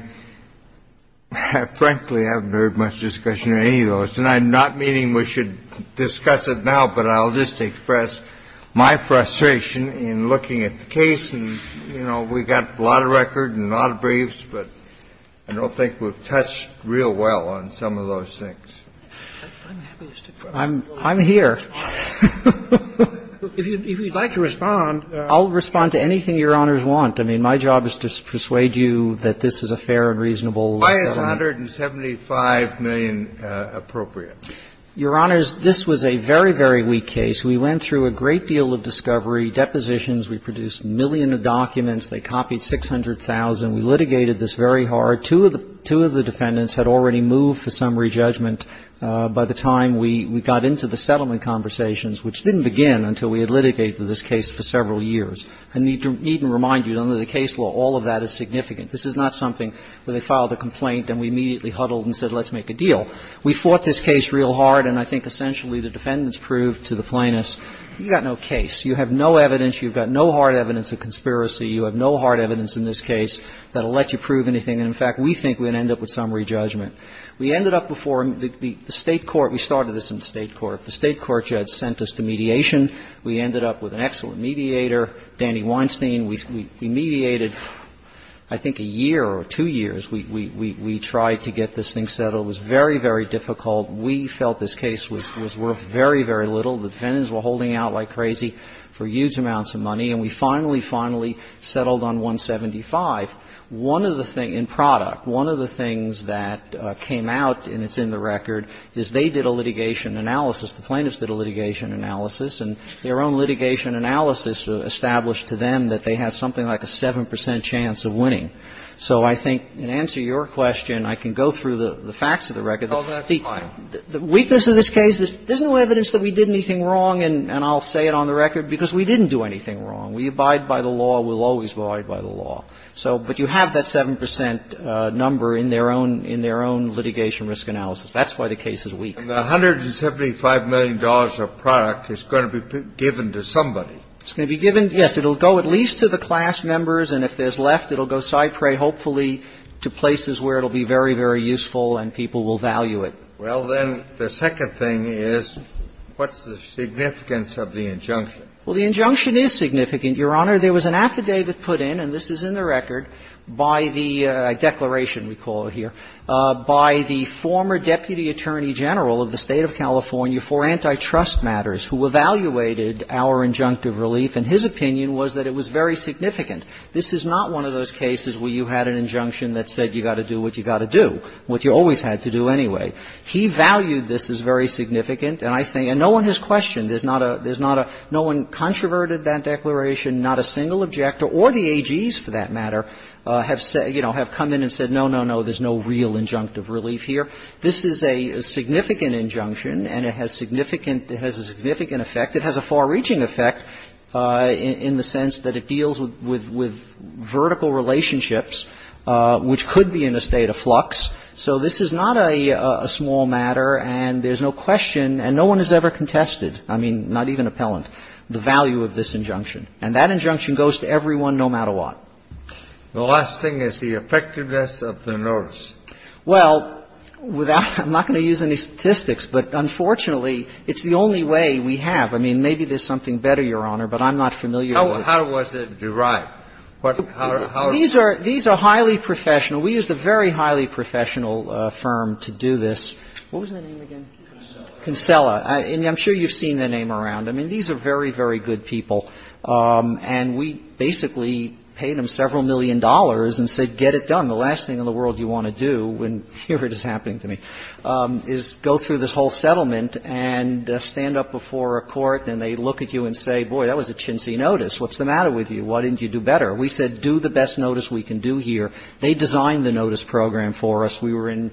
frankly, haven't heard much discussion of any of those. And I'm not meaning we should discuss it now, but I'll just express my frustration in looking at the case, and, you know, we got a lot of record and a lot of briefs, but I don't think we've touched real well on some of those things. I'm here. If you'd like to respond. I'll respond to anything Your Honors want. I mean, my job is to persuade you that this is a fair and reasonable settlement. Why is $175 million appropriate? Your Honors, this was a very, very weak case. We went through a great deal of discovery, depositions. We produced a million documents. They copied 600,000. We litigated this very hard. Two of the defendants had already moved for summary judgment by the time we got into the settlement conversations, which didn't begin until we had litigated this case for several years. I need to even remind you, under the case law, all of that is significant. This is not something where they filed a complaint and we immediately huddled and said let's make a deal. We fought this case real hard, and I think essentially the defendants proved to the plaintiffs, you've got no case, you have no evidence, you've got no hard evidence of conspiracy, you have no hard evidence in this case that will let you prove anything. And in fact, we think we're going to end up with summary judgment. We ended up before the State court. We started this in the State court. The State court had sent us to mediation. We ended up with an excellent mediator, Danny Weinstein. We mediated, I think, a year or two years. We tried to get this thing settled. It was very, very difficult. We felt this case was worth very, very little. The defendants were holding out like crazy for huge amounts of money. And we finally, finally settled on 175. One of the things, in product, one of the things that came out, and it's in the record, is they did a litigation analysis, the plaintiffs did a litigation analysis, and their own litigation analysis established to them that they had something like a 7 percent chance of winning. So I think, in answer to your question, I can go through the facts of the record. The weakness of this case is there's no evidence that we did anything wrong, and I'll say it on the record, because we didn't do anything wrong. We abide by the law. We'll always abide by the law. So, but you have that 7 percent number in their own litigation risk analysis. That's why the case is weak. The $175 million of product is going to be given to somebody. It's going to be given, yes. It will go at least to the class members, and if there's left, it will go, I pray, hopefully to places where it will be very, very useful and people will value it. Well, then, the second thing is, what's the significance of the injunction? Well, the injunction is significant, Your Honor. There was an affidavit put in, and this is in the record, by the declaration we call it here, by the former Deputy Attorney General of the State of California for Antitrust Matters, who evaluated our injunctive relief, and his opinion was that it was very significant. This is not one of those cases where you had an injunction that said you got to do what you got to do, what you always had to do anyway. He valued this as very significant, and I think, and no one has questioned. There's not a, there's not a, no one controverted that declaration, not a single objector, or the AGs, for that matter, have said, you know, have come in and said, no, no, no, there's no real injunctive relief here. This is a significant injunction, and it has significant, it has a significant effect. It has a far-reaching effect in the sense that it deals with vertical relationships, which could be in a state of flux. So this is not a small matter, and there's no question, and no one has ever contested, I mean, not even Appellant, the value of this injunction. And that injunction goes to everyone, no matter what. The last thing is the effectiveness of the notice. Well, without, I'm not going to use any statistics, but unfortunately, it's the only way we have. I mean, maybe there's something better, Your Honor, but I'm not familiar with it. How was it derived? What, how is it derived? These are highly professional. You know, we used a very highly professional firm to do this. What was the name again? Concella. And I'm sure you've seen the name around. I mean, these are very, very good people. And we basically paid them several million dollars and said, get it done. The last thing in the world you want to do, and here it is happening to me, is go through this whole settlement and stand up before a court, and they look at you and say, boy, that was a chintzy notice. What's the matter with you? Why didn't you do better? We said, do the best notice we can do here. They designed the notice program for us. We were in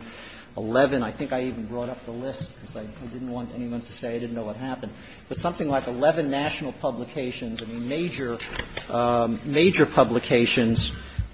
11. I think I even brought up the list because I didn't want anyone to say I didn't know what happened. But something like 11 national publications, I mean, major, major publications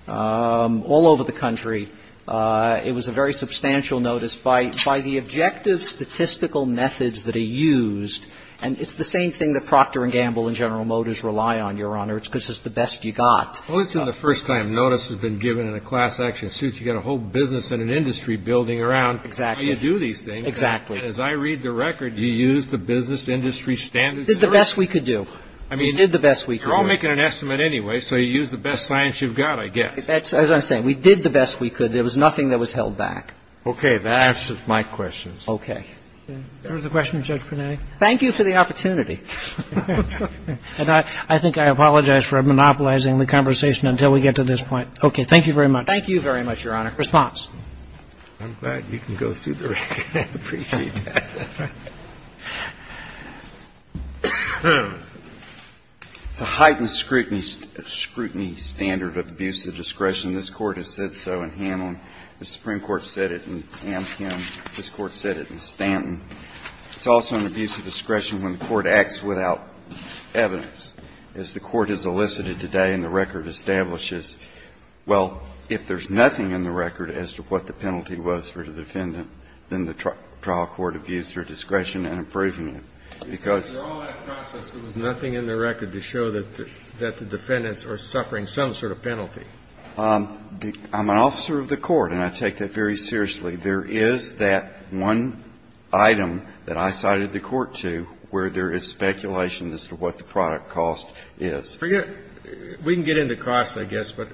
all over the country. It was a very substantial notice by the objective statistical methods that are used. And it's the same thing that Procter & Gamble and General Motors rely on, Your Honor. It's because it's the best you got. Kennedy. Well, it's in the first time notice has been given in a class action suit. You've got a whole business and an industry building around how you do these things. Exactly. As I read the record, you used the business industry standards. We did the best we could do. I mean, you're all making an estimate anyway, so you used the best science you've got, I guess. That's what I'm saying. We did the best we could. There was nothing that was held back. Okay. That answers my questions. Okay. Do you remember the question, Judge Panetti? Thank you for the opportunity. I think I apologize for monopolizing the conversation until we get to this point. Okay. Thank you very much. Thank you very much, Your Honor. Response. I'm glad you can go through the record. I appreciate that. It's a heightened scrutiny standard of abuse of discretion. This Court has said so in Hamlin. The Supreme Court said it in Amkin. This Court said it in Stanton. It's also an abuse of discretion when the Court acts without evidence. As the Court has elicited today and the record establishes, well, if there's nothing in the record as to what the penalty was for the defendant, then the trial court abused their discretion in approving it. Because there was nothing in the record to show that the defendants are suffering some sort of penalty. I'm an officer of the Court, and I take that very seriously. There is that one item that I cited the Court to where there is speculation as to what the product cost is. We can get into cost, I guess, but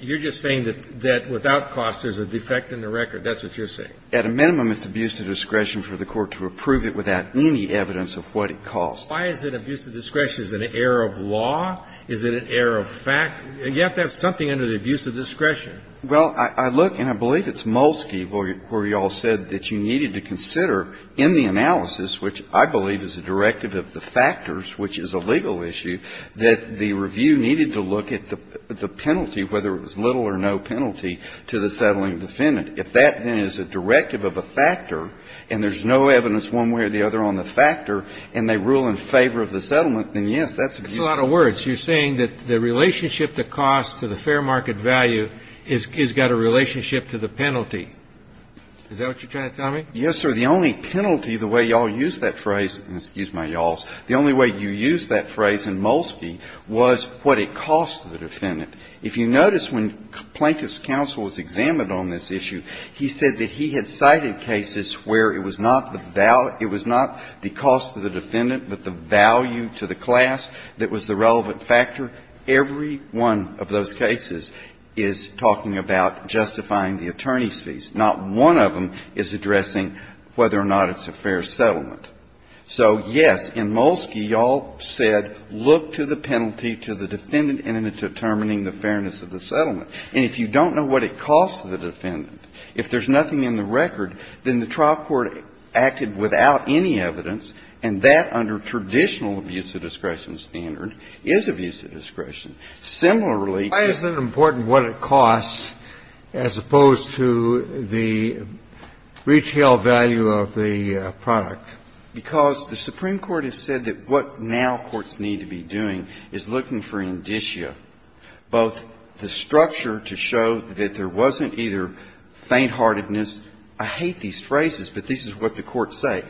you're just saying that without cost, there's a defect in the record. That's what you're saying. At a minimum, it's abuse of discretion for the Court to approve it without any evidence of what it cost. Why is it abuse of discretion? Is it an error of law? Is it an error of fact? You have to have something under the abuse of discretion. Well, I look, and I believe it's Molsky where you all said that you needed to consider in the analysis, which I believe is a directive of the factors, which is a legal issue, that the review needed to look at the penalty, whether it was little or no penalty, to the settling defendant. If that, then, is a directive of a factor and there's no evidence one way or the other on the factor and they rule in favor of the settlement, then, yes, that's abuse of discretion. But that's a lot of words. You're saying that the relationship to cost to the fair market value has got a relationship to the penalty. Is that what you're trying to tell me? Yes, sir. The only penalty, the way you all use that phrase, excuse my y'alls, the only way you use that phrase in Molsky was what it cost the defendant. If you notice, when Plaintiff's counsel was examined on this issue, he said that he had cited cases where it was not the value, it was not the cost to the defendant, but the value to the class that was the relevant factor. Every one of those cases is talking about justifying the attorney's fees. Not one of them is addressing whether or not it's a fair settlement. So, yes, in Molsky, you all said look to the penalty to the defendant in determining the fairness of the settlement. And if you don't know what it cost the defendant, if there's nothing in the record, then the trial court acted without any evidence, and that, under traditional abuse of discretion standard, is abuse of discretion. Similarly, the other thing that's important is what it costs, as opposed to the retail value of the product. Because the Supreme Court has said that what now courts need to be doing is looking for indicia, both the structure to show that there wasn't either faintheartedness, I hate these phrases, but this is what the courts say.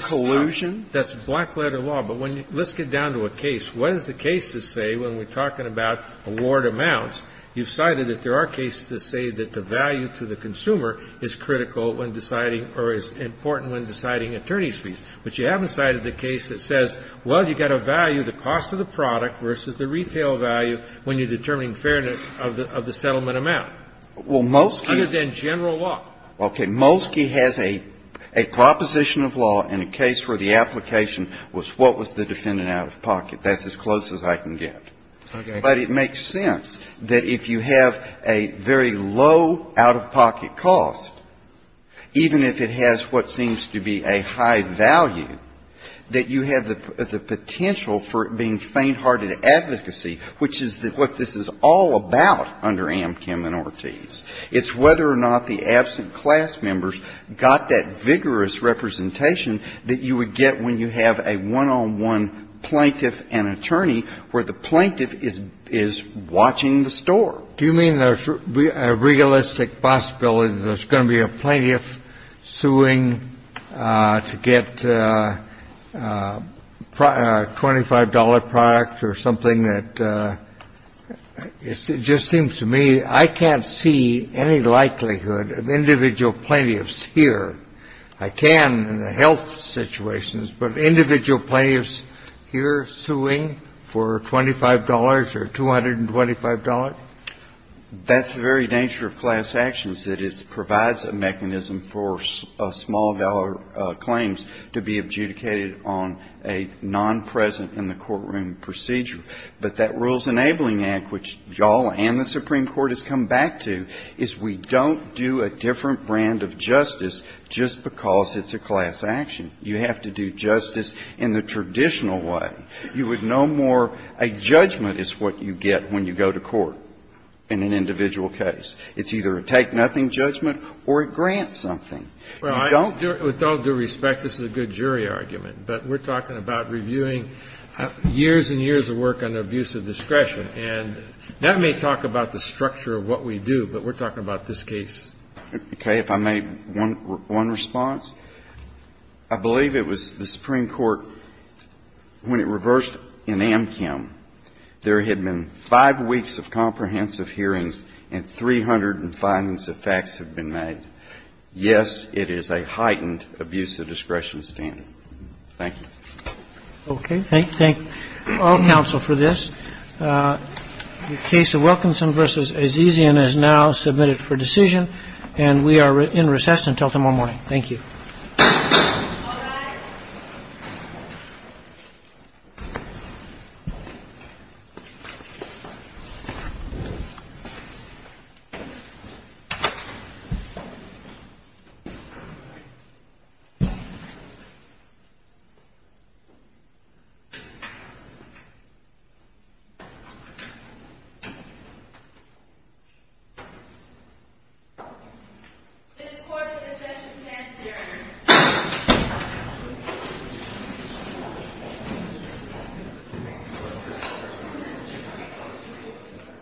Collusion? That's black letter law. But let's get down to a case. What does the case say when we're talking about award amounts? You've cited that there are cases that say that the value to the consumer is critical when deciding or is important when deciding attorney's fees. But you haven't cited the case that says, well, you've got to value the cost of the product versus the retail value when you're determining fairness of the settlement amount. Well, Molsky… In general law. Okay. Molsky has a proposition of law in a case where the application was what was the defendant out of pocket. That's as close as I can get. Okay. But it makes sense that if you have a very low out-of-pocket cost, even if it has what seems to be a high value, that you have the potential for it being fainthearted advocacy, which is what this is all about under Amkim and Ortiz. It's whether or not the absent class members got that vigorous representation that you would get when you have a one-on-one plaintiff and attorney where the plaintiff is watching the store. Do you mean there's a realistic possibility that there's going to be a plaintiff suing to get a $25 product or something that… It just seems to me I can't see the any likelihood of individual plaintiffs here, I can in the health situations, but individual plaintiffs here suing for $25 or $225? That's the very nature of class actions, that it provides a mechanism for small-dollar claims to be adjudicated on a non-present-in-the-courtroom procedure. But that Rules Enabling Act, which you all and the Supreme Court has come back to, is we don't do a different brand of justice just because it's a class action. You have to do justice in the traditional way. You would no more… A judgment is what you get when you go to court in an individual case. It's either a take-nothing judgment or a grant something. With all due respect, this is a good jury argument, but we're talking about reviewing years and years of work on abuse of discretion, and that may talk about the structure of what we do, but we're talking about this case. Okay, if I may, one response. I believe it was the Supreme Court, when it reversed in Amchem, there had been five weeks of comprehensive hearings and 300 findings of facts had been made. Yes, it is a heightened abuse of discretion standard. Thank you. Okay. Thank all counsel for this. The case of Wilkinson v. Azizian is now submitted for decision, and we are in recess until tomorrow morning. Thank you. All rise. This court for the session stands adjourned.